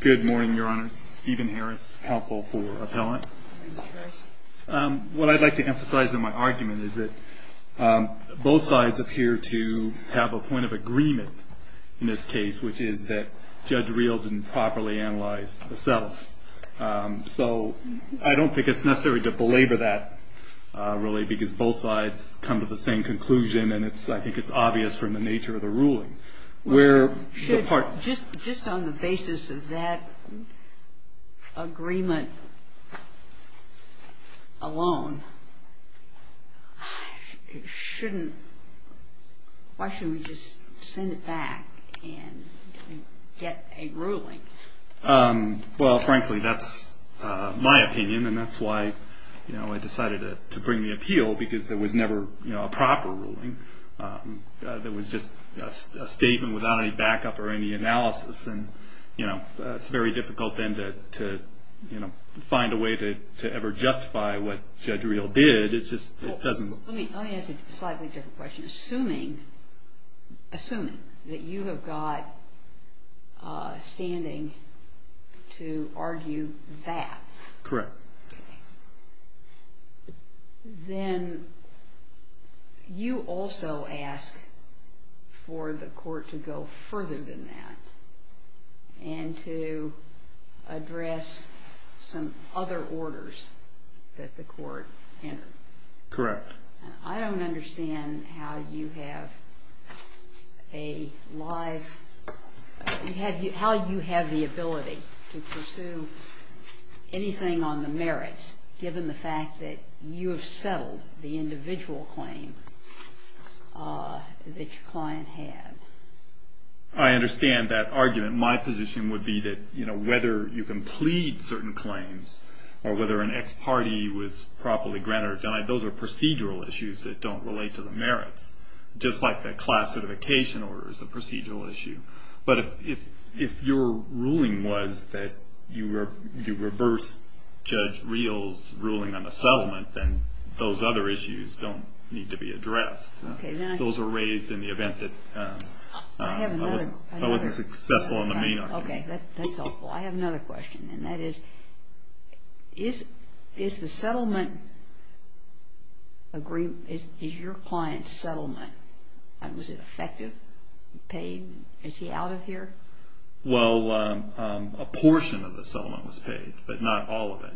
Good morning, Your Honor. This is Stephen Harris, Counsel for Appellant. What I'd like to emphasize in my argument is that both sides appear to have a point of agreement in this case, which is that Judge Reel didn't properly analyze the self. So I don't think it's necessary to belabor that, really, because both sides come to the same conclusion, and I think it's obvious from the nature of the ruling. Just on the basis of that agreement alone, why shouldn't we just send it back and get a ruling? Well, frankly, that's my opinion, and that's why I decided to bring the appeal, because there was never a proper ruling. There was just a statement without any backup or any analysis, and it's very difficult, then, to find a way to ever justify what Judge Reel did. Let me ask a slightly different question. Assuming that you have got standing to argue that, then you also ask for the court to go further than that and to address some other orders that the court entered. Correct. I don't understand how you have the ability to pursue anything on the merits, given the fact that you have settled the individual claim that your client had. I understand that argument. My position would be that whether you can plead certain claims or whether an ex parte was properly granted or denied, those are procedural issues that don't relate to the merits, just like the class certification order is a procedural issue. But if your ruling was that you reversed Judge Reel's ruling on the settlement, then those other issues don't need to be addressed. Those are raised in the event that I wasn't successful in the main argument. Okay, that's helpful. I have another question, and that is, is the settlement agreement, is your client's settlement, was it effective, paid, is he out of here? Well, a portion of the settlement was paid, but not all of it,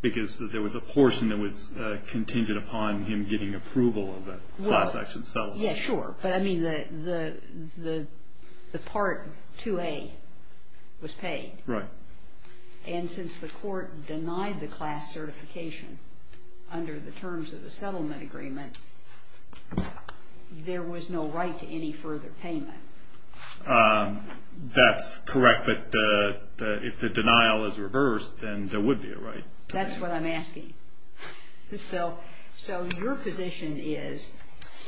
because there was a portion that was contingent upon him getting approval of the class action settlement. Yeah, sure, but I mean the Part 2A was paid. Right. And since the court denied the class certification under the terms of the settlement agreement, there was no right to any further payment. That's correct, but if the denial is reversed, then there would be a right. That's what I'm asking. So your position is,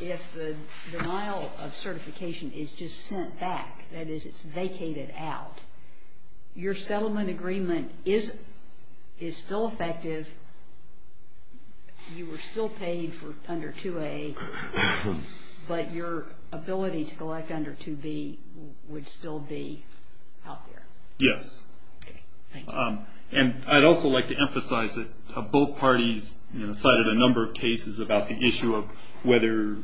if the denial of certification is just sent back, that is, it's vacated out, your settlement agreement is still effective, you were still paid for under 2A, but your ability to collect under 2B would still be out there? Yes. Okay, thank you. And I'd also like to emphasize that both parties cited a number of cases about the issue of whether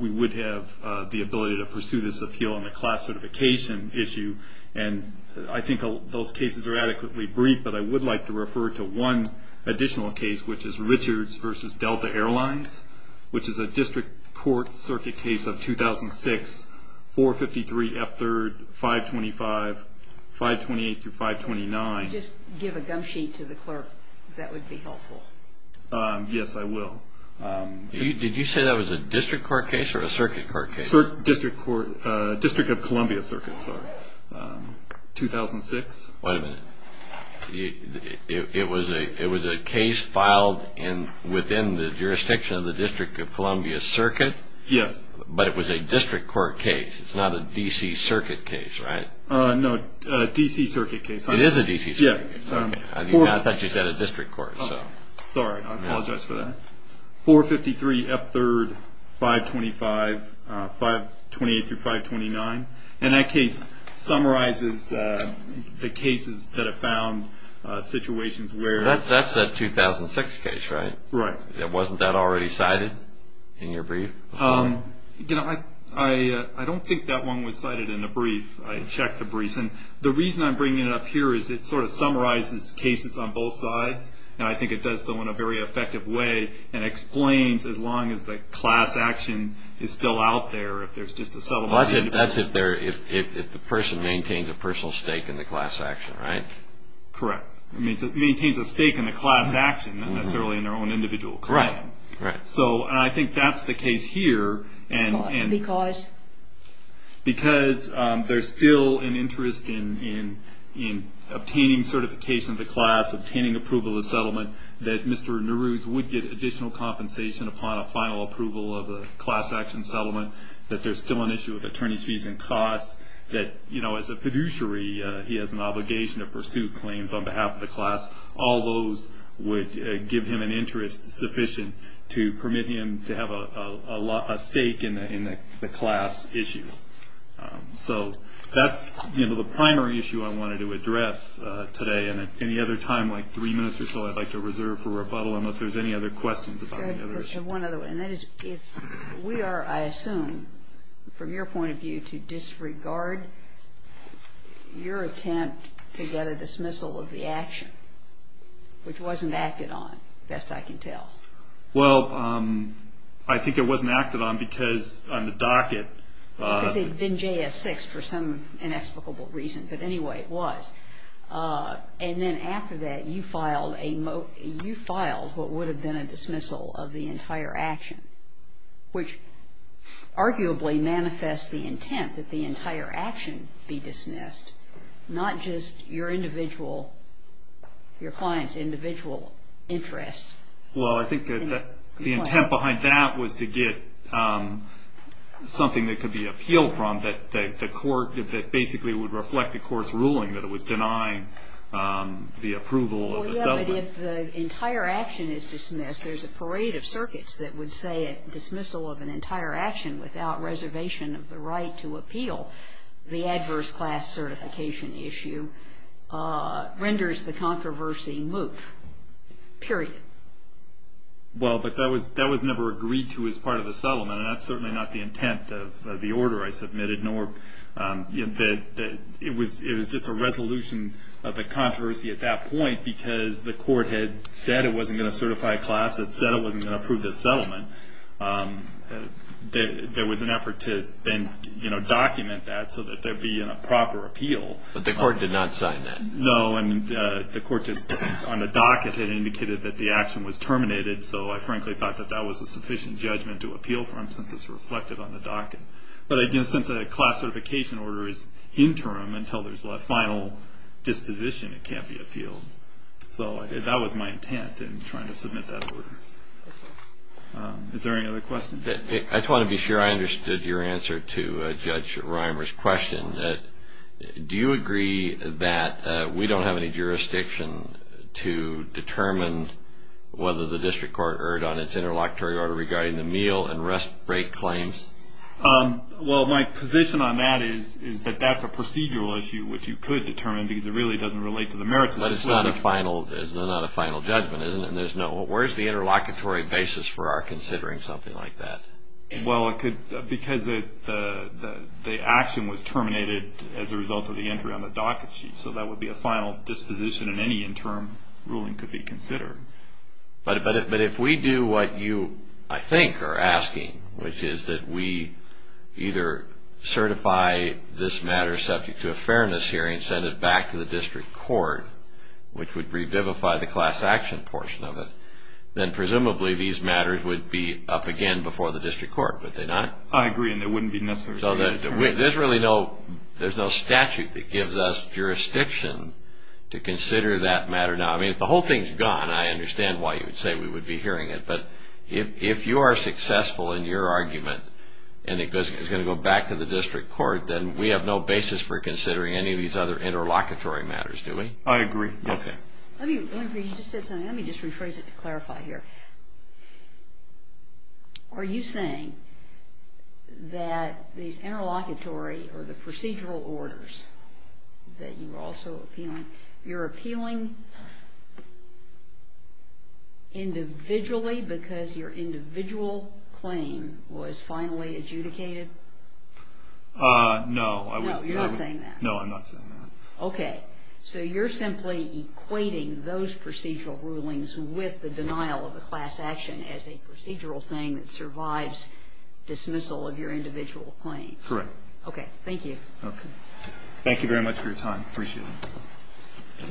we would have the ability to pursue this appeal on the class certification issue, and I think those cases are adequately brief, but I would like to refer to one additional case, which is Richards v. Delta Airlines, which is a district court circuit case of 2006, 453 F3rd, 525, 528-529. If you could just give a gum sheet to the clerk, that would be helpful. Yes, I will. Did you say that was a district court case or a circuit court case? District of Columbia Circuit, sorry, 2006. Wait a minute. It was a case filed within the jurisdiction of the District of Columbia Circuit? Yes. But it was a district court case. It's not a D.C. Circuit case, right? No, a D.C. Circuit case. It is a D.C. Circuit case. I thought you said a district court. Sorry, I apologize for that. 453 F3rd, 525, 528-529, and that case summarizes the cases that have found situations where... That's that 2006 case, right? Right. Wasn't that already cited in your brief? I don't think that one was cited in the brief. I checked the brief, and the reason I'm bringing it up here is it sort of summarizes cases on both sides, and I think it does so in a very effective way and explains, as long as the class action is still out there, if there's just a settlement... That's if the person maintains a personal stake in the class action, right? Correct. Maintains a stake in the class action, not necessarily in their own individual claim. Correct. So I think that's the case here, and... Because? Because there's still an interest in obtaining certification of the class, obtaining approval of the settlement, that Mr. Naruse would get additional compensation upon a final approval of a class action settlement, that there's still an issue with attorney's fees and costs, that, you know, as a fiduciary, he has an obligation to pursue claims on behalf of the class. All those would give him an interest sufficient to permit him to have a stake in the class issues. So that's, you know, the primary issue I wanted to address today. And at any other time, like three minutes or so, I'd like to reserve for rebuttal, unless there's any other questions about any other... One other one, and that is if we are, I assume, from your point of view, to disregard your attempt to get a dismissal of the action, which wasn't acted on, best I can tell. Well, I think it wasn't acted on because on the docket... Because it had been JS 6 for some inexplicable reason, but anyway, it was. And then after that, you filed what would have been a dismissal of the entire action, which arguably manifests the intent that the entire action be dismissed, not just your individual, your client's individual interest. Well, I think the intent behind that was to get something that could be appealed from, that basically would reflect the court's ruling that it was denying the approval of the settlement. Well, yeah, but if the entire action is dismissed, there's a parade of circuits that would say a dismissal of an entire action without reservation of the right to appeal, the adverse class certification issue renders the controversy moot, period. Well, but that was never agreed to as part of the settlement, and that's certainly not the intent of the order I submitted, nor that it was just a resolution of the controversy at that point, because the court had said it wasn't going to certify a class that said it wasn't going to approve the settlement. There was an effort to then document that so that there would be a proper appeal. But the court did not sign that. No, and the court just on the docket had indicated that the action was terminated, so I frankly thought that that was a sufficient judgment to appeal from since it's reflected on the docket. But again, since a class certification order is interim until there's a final disposition, it can't be appealed. So that was my intent in trying to submit that order. Is there any other questions? I just want to be sure I understood your answer to Judge Reimer's question. Do you agree that we don't have any jurisdiction to determine whether the district court erred on its interlocutory order regarding the meal and rest break claims? Well, my position on that is that that's a procedural issue which you could determine because it really doesn't relate to the merits of the settlement. But it's not a final judgment, is it? Where's the interlocutory basis for our considering something like that? Well, because the action was terminated as a result of the entry on the docket sheet, so that would be a final disposition and any interim ruling could be considered. But if we do what you, I think, are asking, which is that we either certify this matter subject to a fairness hearing and send it back to the district court, which would revivify the class action portion of it, then presumably these matters would be up again before the district court, would they not? I agree, and it wouldn't be necessary. So there's really no statute that gives us jurisdiction to consider that matter. Now, I mean, if the whole thing's gone, I understand why you would say we would be hearing it. But if you are successful in your argument and it's going to go back to the district court, then we have no basis for considering any of these other interlocutory matters, do we? I agree, yes. Let me just rephrase it to clarify here. Are you saying that these interlocutory or the procedural orders that you were also appealing, you're appealing individually because your individual claim was finally adjudicated? No, I was not saying that. No, you're not saying that. No, I'm not saying that. Okay. So you're simply equating those procedural rulings with the denial of the class action as a procedural thing that survives dismissal of your individual claim. Correct. Okay. Thank you. Okay. Thank you very much for your time. Appreciate it.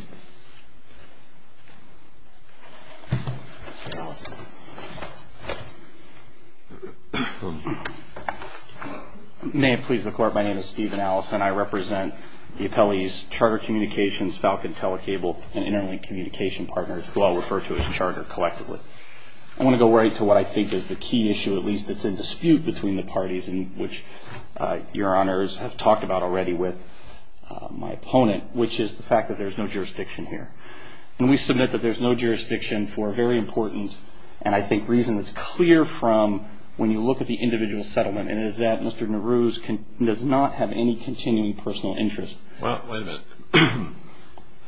May it please the Court, my name is Stephen Allison. I represent the appellees, Charter Communications, Falcon Telecable, and Interlink Communication Partners, who I'll refer to as Charter collectively. I want to go right to what I think is the key issue, at least that's in dispute between the parties, and which Your Honors have talked about already with my opponent, which is the fact that there's no jurisdiction here. And we submit that there's no jurisdiction for a very important, and I think reason that's clear from when you look at the individual settlement, and it is that Mr. Nehru does not have any continuing personal interest. Well, wait a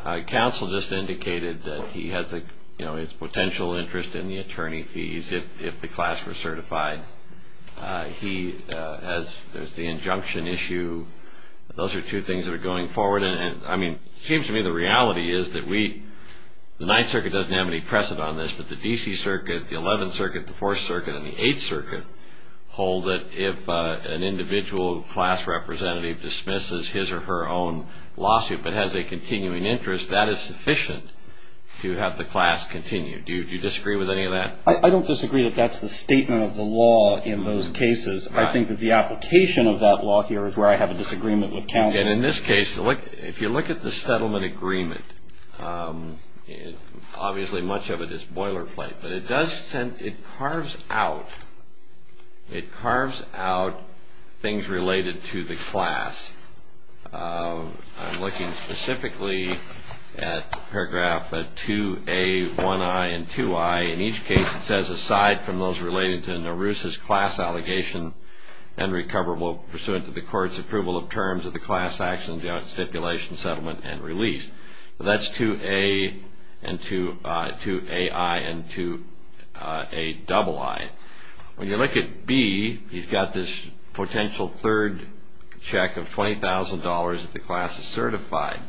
minute. Counsel just indicated that he has a, you know, his potential interest in the attorney fees if the class were certified. He has the injunction issue. Those are two things that are going forward. It seems to me the reality is that the Ninth Circuit doesn't have any precedent on this, but the D.C. Circuit, the Eleventh Circuit, the Fourth Circuit, and the Eighth Circuit hold that if an individual class representative dismisses his or her own lawsuit but has a continuing interest, that is sufficient to have the class continue. Do you disagree with any of that? I don't disagree that that's the statement of the law in those cases. I think that the application of that law here is where I have a disagreement with counsel. Again, in this case, if you look at the settlement agreement, obviously much of it is boilerplate, but it does send, it carves out, it carves out things related to the class. I'm looking specifically at paragraph 2A1I and 2I. In each case it says, aside from those related to Nehru's class allegation and recoverable pursuant to the court's approval of terms of the class action stipulation settlement and release. That's 2A and 2AI and 2AII. When you look at B, he's got this potential third check of $20,000 if the class is certified.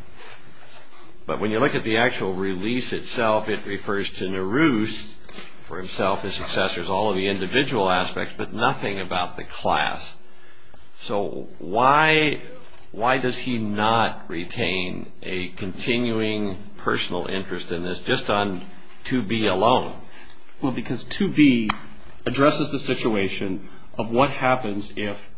But when you look at the actual release itself, it refers to Nehru's, for himself, his successors, all of the individual aspects, but nothing about the class. So why does he not retain a continuing personal interest in this just on 2B alone? Well, because 2B addresses the situation of what happens if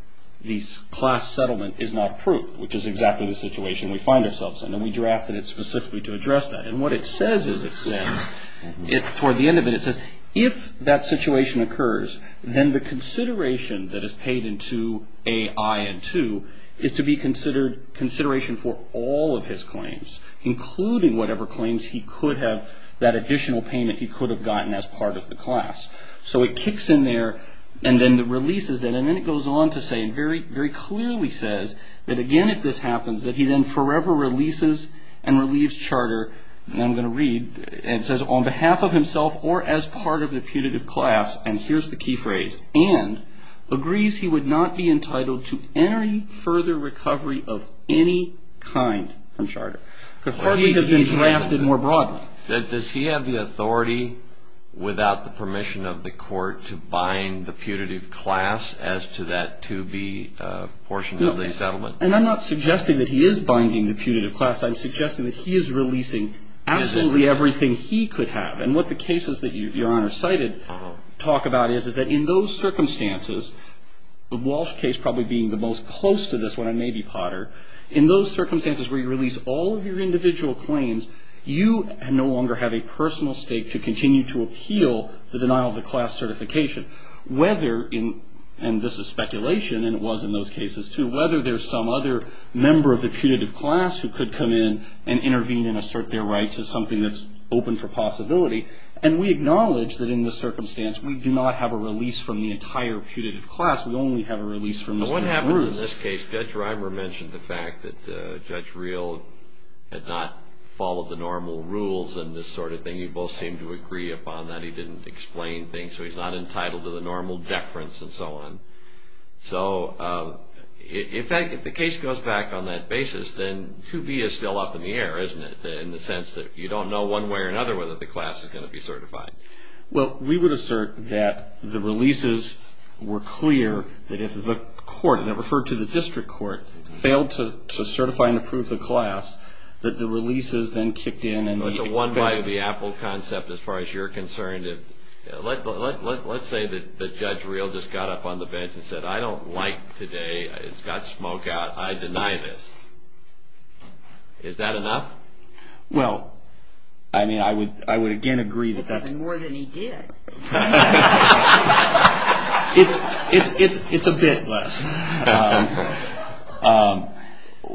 the class settlement is not approved, which is exactly the situation we find ourselves in. And we drafted it specifically to address that. And what it says is it says, toward the end of it it says, if that situation occurs, then the consideration that is paid into 2AI and 2 is to be considered consideration for all of his claims, including whatever claims he could have, that additional payment he could have gotten as part of the class. So it kicks in there and then it releases that. And then it goes on to say, and very clearly says, that again, if this happens, that he then forever releases and relieves Charter, and I'm going to read, and it says, on behalf of himself or as part of the putative class, and here's the key phrase, and agrees he would not be entitled to any further recovery of any kind from Charter. Could hardly have been drafted more broadly. Does he have the authority, without the permission of the court, to bind the putative class as to that 2B portion of the settlement? And I'm not suggesting that he is binding the putative class. I'm suggesting that he is releasing absolutely everything he could have. And what the cases that Your Honor cited talk about is, is that in those circumstances, the Walsh case probably being the most close to this when I may be Potter, in those circumstances where you release all of your individual claims, you no longer have a personal stake to continue to appeal the denial of the class certification. Whether in, and this is speculation, and it was in those cases too, whether there's some other member of the putative class who could come in and intervene and assert their rights is something that's open for possibility. And we acknowledge that in this circumstance, we do not have a release from the entire putative class. We only have a release from Mr. Bruce. But what happened in this case, Judge Reimer mentioned the fact that Judge Reil had not followed the normal rules and this sort of thing. You both seemed to agree upon that. He didn't explain things, so he's not entitled to the normal deference and so on. So, in fact, if the case goes back on that basis, then 2B is still up in the air, isn't it? In the sense that you don't know one way or another whether the class is going to be certified. Well, we would assert that the releases were clear, that if the court, and I referred to the district court, failed to certify and approve the class, that the releases then kicked in. But the one by the Apple concept, as far as you're concerned, let's say that Judge Reil just got up on the bench and said, I don't like today, it's got smoke out, I deny this. Is that enough? Well, I mean, I would again agree that that's... That's even more than he did. It's a bit less.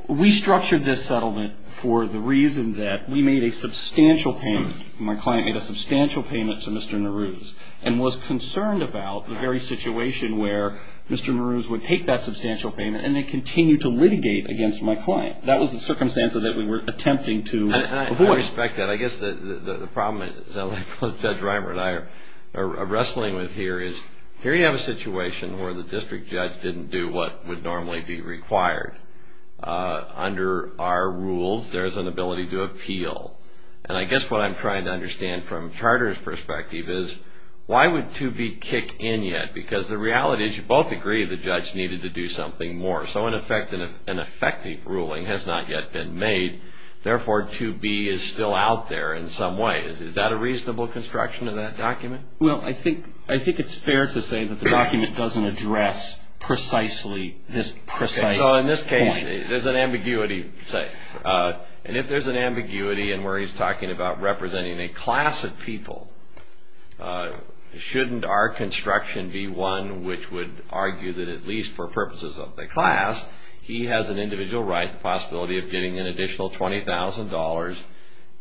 We structured this settlement for the reason that we made a substantial payment, my client made a substantial payment to Mr. Maroos, and was concerned about the very situation where Mr. Maroos would take that substantial payment and then continue to litigate against my client. That was the circumstance that we were attempting to avoid. I respect that. I guess the problem that Judge Reimer and I are wrestling with here is, here you have a situation where the district judge didn't do what would normally be required. Under our rules, there's an ability to appeal. And I guess what I'm trying to understand from Charter's perspective is, why would 2B kick in yet? Because the reality is you both agree the judge needed to do something more. So an effective ruling has not yet been made, therefore 2B is still out there in some ways. Is that a reasonable construction of that document? Well, I think it's fair to say that the document doesn't address precisely this precise point. So in this case, there's an ambiguity. And if there's an ambiguity in where he's talking about representing a class of people, shouldn't our construction be one which would argue that at least for purposes of the class, he has an individual right, the possibility of getting an additional $20,000,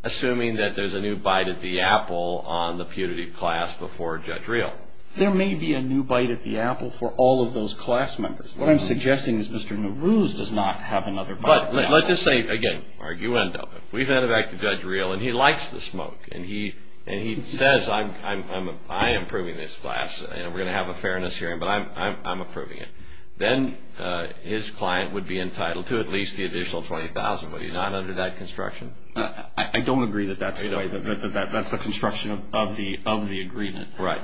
assuming that there's a new bite at the apple on the putative class before Judge Reil. There may be a new bite at the apple for all of those class members. What I'm suggesting is Mr. Nowruz does not have another bite at the apple. But let's just say, again, you end up. We've headed back to Judge Reil, and he likes the smoke. And he says, I am approving this class, and we're going to have a fairness hearing, but I'm approving it. Then his client would be entitled to at least the additional $20,000. Would he not under that construction? I don't agree that that's the construction of the agreement. Right.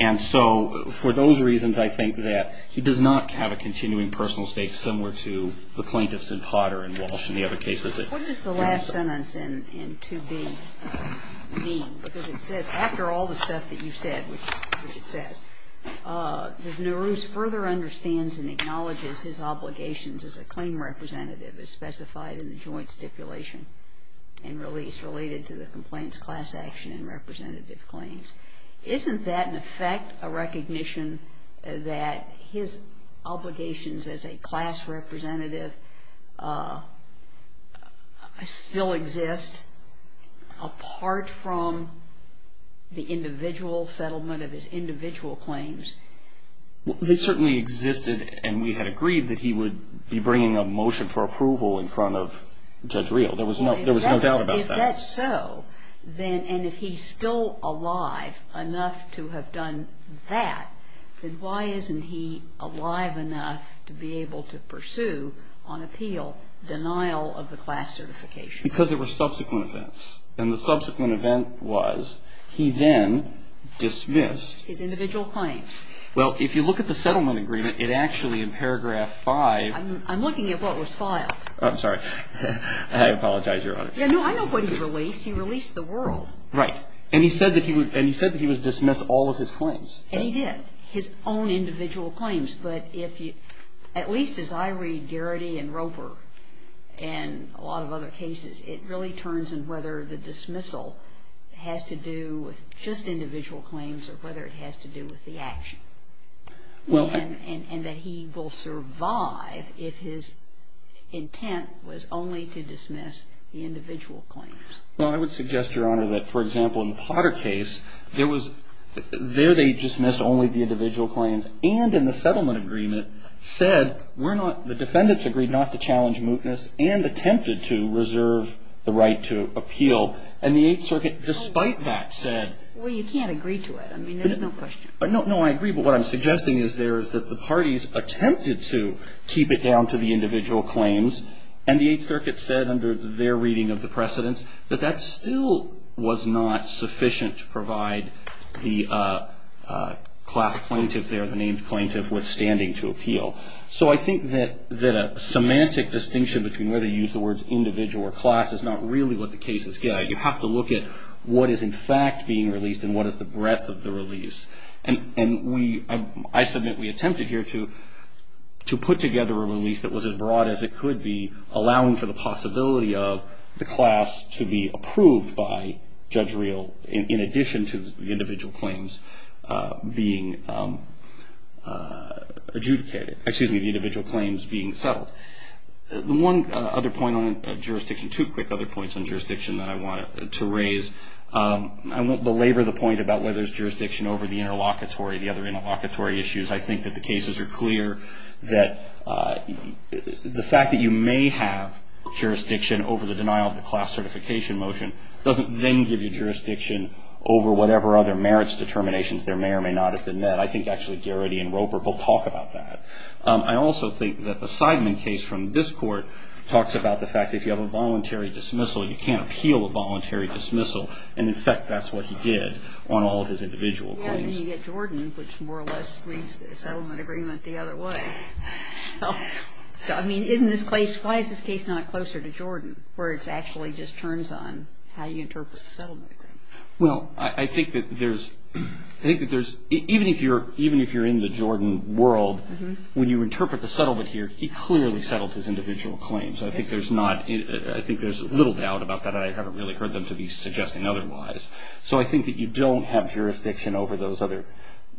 And so for those reasons, I think that he does not have a continuing personal stake similar to the plaintiffs in Potter and Walsh and the other cases. What does the last sentence in 2B mean? Because it says, after all the stuff that you've said, which it says, does Nowruz further understands and acknowledges his obligations as a claim representative as specified in the joint stipulation and release related to the complaints class action and representative claims? Isn't that, in effect, a recognition that his obligations as a class representative still exist, apart from the individual settlement of his individual claims? He certainly existed, and we had agreed that he would be bringing a motion for approval in front of Judge Reil. There was no doubt about that. If that's so, then, and if he's still alive enough to have done that, then why isn't he alive enough to be able to pursue on appeal denial of the class certification? Because there were subsequent events, and the subsequent event was he then dismissed. His individual claims. Well, if you look at the settlement agreement, it actually, in paragraph 5. I'm looking at what was filed. I'm sorry. I apologize, Your Honor. No, I know what he released. He released the world. Right. And he said that he would dismiss all of his claims. And he did. His own individual claims. But if you, at least as I read Garrity and Roper and a lot of other cases, it really turns in whether the dismissal has to do with just individual claims or whether it has to do with the action. And that he will survive if his intent was only to dismiss the individual claims. Well, I would suggest, Your Honor, that, for example, in the Potter case, there was, there they dismissed only the individual claims. And in the settlement agreement said, we're not, the defendants agreed not to challenge mootness and attempted to reserve the right to appeal. And the Eighth Circuit, despite that, said. Well, you can't agree to it. I mean, there's no question. No, I agree. But what I'm suggesting is there is that the parties attempted to keep it down to the individual claims. And the Eighth Circuit said, under their reading of the precedents, that that still was not sufficient to provide the class plaintiff there, the named plaintiff, withstanding to appeal. So I think that a semantic distinction between whether to use the words individual or class is not really what the case is getting at. You have to look at what is in fact being released and what is the breadth of the release. And we, I submit, we attempted here to put together a release that was as broad as it could be, allowing for the possibility of the class to be approved by Judge Reel, in addition to the individual claims being adjudicated, excuse me, the individual claims being settled. The one other point on jurisdiction, two quick other points on jurisdiction that I wanted to raise. I won't belabor the point about whether there's jurisdiction over the interlocutory, the other interlocutory issues. I think that the cases are clear that the fact that you may have jurisdiction over the denial of the class certification motion doesn't then give you jurisdiction over whatever other merits determinations there may or may not have been met. I think actually Garrity and Roper both talk about that. I also think that the Seidman case from this Court talks about the fact that if you have a voluntary dismissal, you can't appeal a voluntary dismissal. And, in fact, that's what he did on all of his individual claims. Well, then you get Jordan, which more or less reads the settlement agreement the other way. So, I mean, in this case, why is this case not closer to Jordan, where it actually just turns on how you interpret the settlement agreement? Well, I think that there's, even if you're in the Jordan world, when you interpret the settlement here, he clearly settled his individual claims. I think there's little doubt about that. I haven't really heard them to be suggesting otherwise. So I think that you don't have jurisdiction over those other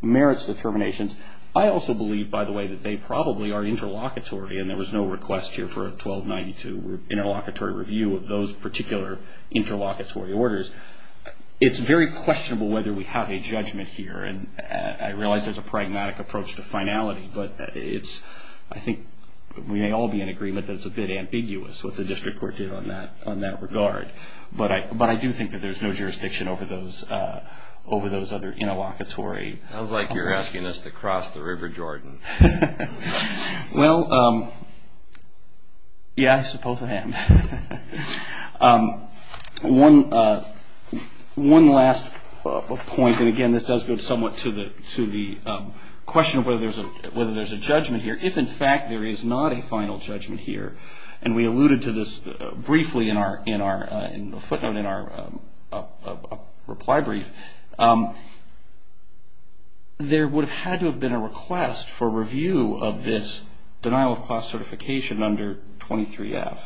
merits determinations. I also believe, by the way, that they probably are interlocutory, and there was no request here for a 1292 interlocutory review of those particular interlocutory orders. It's very questionable whether we have a judgment here, and I realize there's a pragmatic approach to finality, but I think we may all be in agreement that it's a bit ambiguous what the district court did on that regard. But I do think that there's no jurisdiction over those other interlocutory. It sounds like you're asking us to cross the River Jordan. Well, yeah, I suppose I am. One last point, and again, this does go somewhat to the question of whether there's a judgment here. If, in fact, there is not a final judgment here, and we alluded to this briefly in our footnote in our reply brief, there would have had to have been a request for review of this denial of class certification under 23F.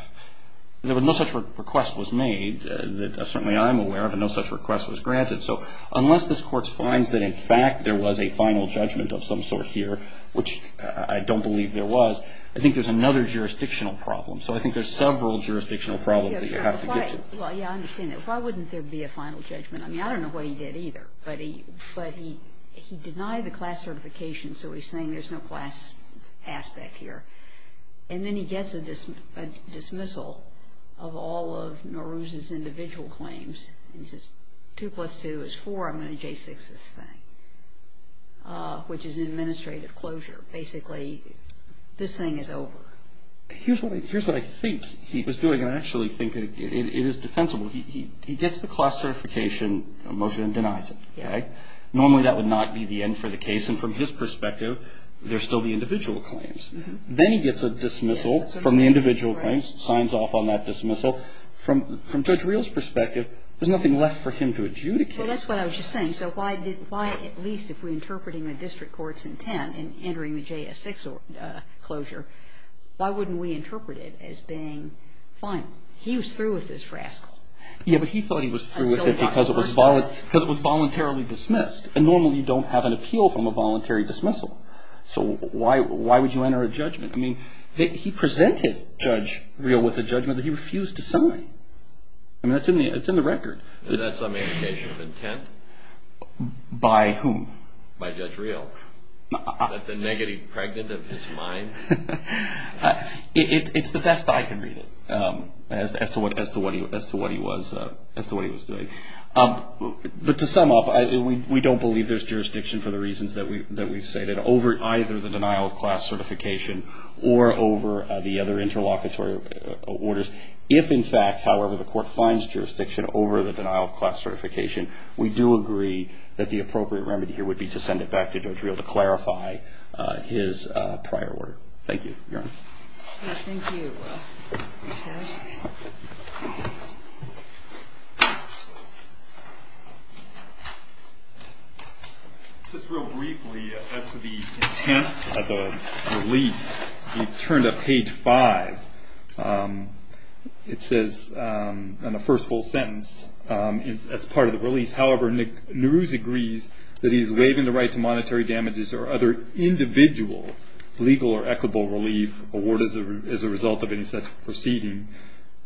There was no such request was made that certainly I'm aware of, and no such request was granted. So unless this Court finds that, in fact, there was a final judgment of some sort here, which I don't believe there was, I think there's another jurisdictional problem. So I think there's several jurisdictional problems that you have to get to. Well, yeah, I understand that. Why wouldn't there be a final judgment? I mean, I don't know what he did either, but he denied the class certification, so he's saying there's no class aspect here. And then he gets a dismissal of all of Nowruz's individual claims, and he says, two plus two is four, I'm going to J6 this thing, which is an administrative closure. Basically, this thing is over. Here's what I think he was doing, and I actually think it is defensible. He gets the class certification motion and denies it, okay? Normally, that would not be the end for the case, and from his perspective, there's still the individual claims. Then he gets a dismissal from the individual claims, signs off on that dismissal. From Judge Reel's perspective, there's nothing left for him to adjudicate. Well, that's what I was just saying. So why at least if we're interpreting the district court's intent in entering the J6 closure, why wouldn't we interpret it as being final? He was through with this rascal. Yeah, but he thought he was through with it because it was voluntarily dismissed, and normally you don't have an appeal from a voluntary dismissal. So why would you enter a judgment? I mean, he presented Judge Reel with a judgment that he refused to sign. I mean, it's in the record. Is that some indication of intent? By whom? By Judge Reel. Is that the negative pregnant of his mind? It's the best I can read it as to what he was doing. But to sum up, we don't believe there's jurisdiction for the reasons that we've stated, over either the denial of class certification or over the other interlocutory orders. If, in fact, however, the court finds jurisdiction over the denial of class certification, we do agree that the appropriate remedy here would be to send it back to Judge Reel to clarify his prior order. Thank you, Your Honor. Thank you, Judge. Just real briefly, as to the intent of the release, you turn to page 5. It says in the first full sentence, as part of the release, however, Nehru's agrees that he's waiving the right to monetary damages or other individual legal or equitable relief awarded as a result of any such proceeding.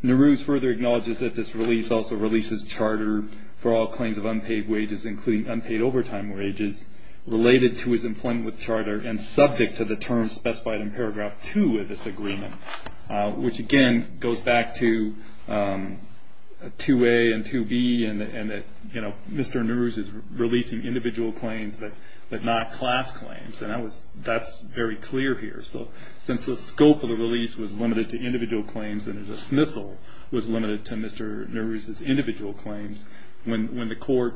Nehru's further acknowledges that this release also releases charter for all claims of unpaid wages, including unpaid overtime wages, related to his employment with charter and subject to the terms specified in paragraph 2 of this agreement, which again goes back to 2A and 2B and that Mr. Nehru's is releasing individual claims but not class claims. That's very clear here. Since the scope of the release was limited to individual claims and the dismissal was limited to Mr. Nehru's individual claims, when the court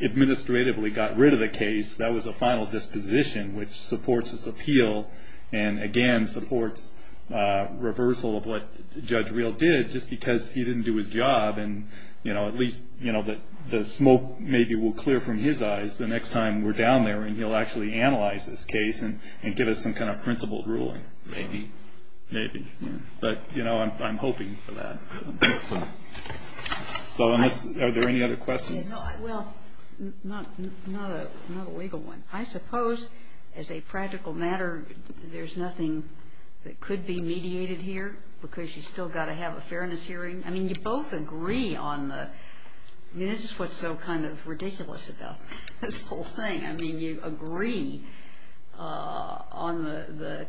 administratively got rid of the case, that was a final disposition, which supports this appeal and again supports reversal of what Judge Reel did just because he didn't do his job and at least the smoke maybe will clear from his eyes the next time we're down there and he'll actually analyze this case and give us some kind of principled ruling. Maybe. Maybe. But I'm hoping for that. Are there any other questions? Not a legal one. I suppose as a practical matter, there's nothing that could be mediated here because you've still got to have a fairness hearing. I mean, you both agree on the ñ I mean, this is what's so kind of ridiculous about this whole thing. I mean, you agree on the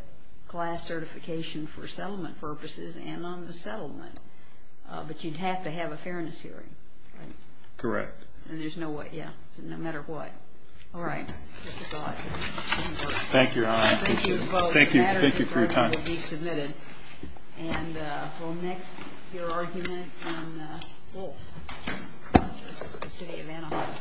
class certification for settlement purposes and on the settlement, but you'd have to have a fairness hearing, right? Correct. And there's no way, yeah, no matter what. All right. Thank you, Your Honor. Thank you both. Thank you. Thank you for your time. And we'll next hear argument on Wolfe v. The City of Anaheim.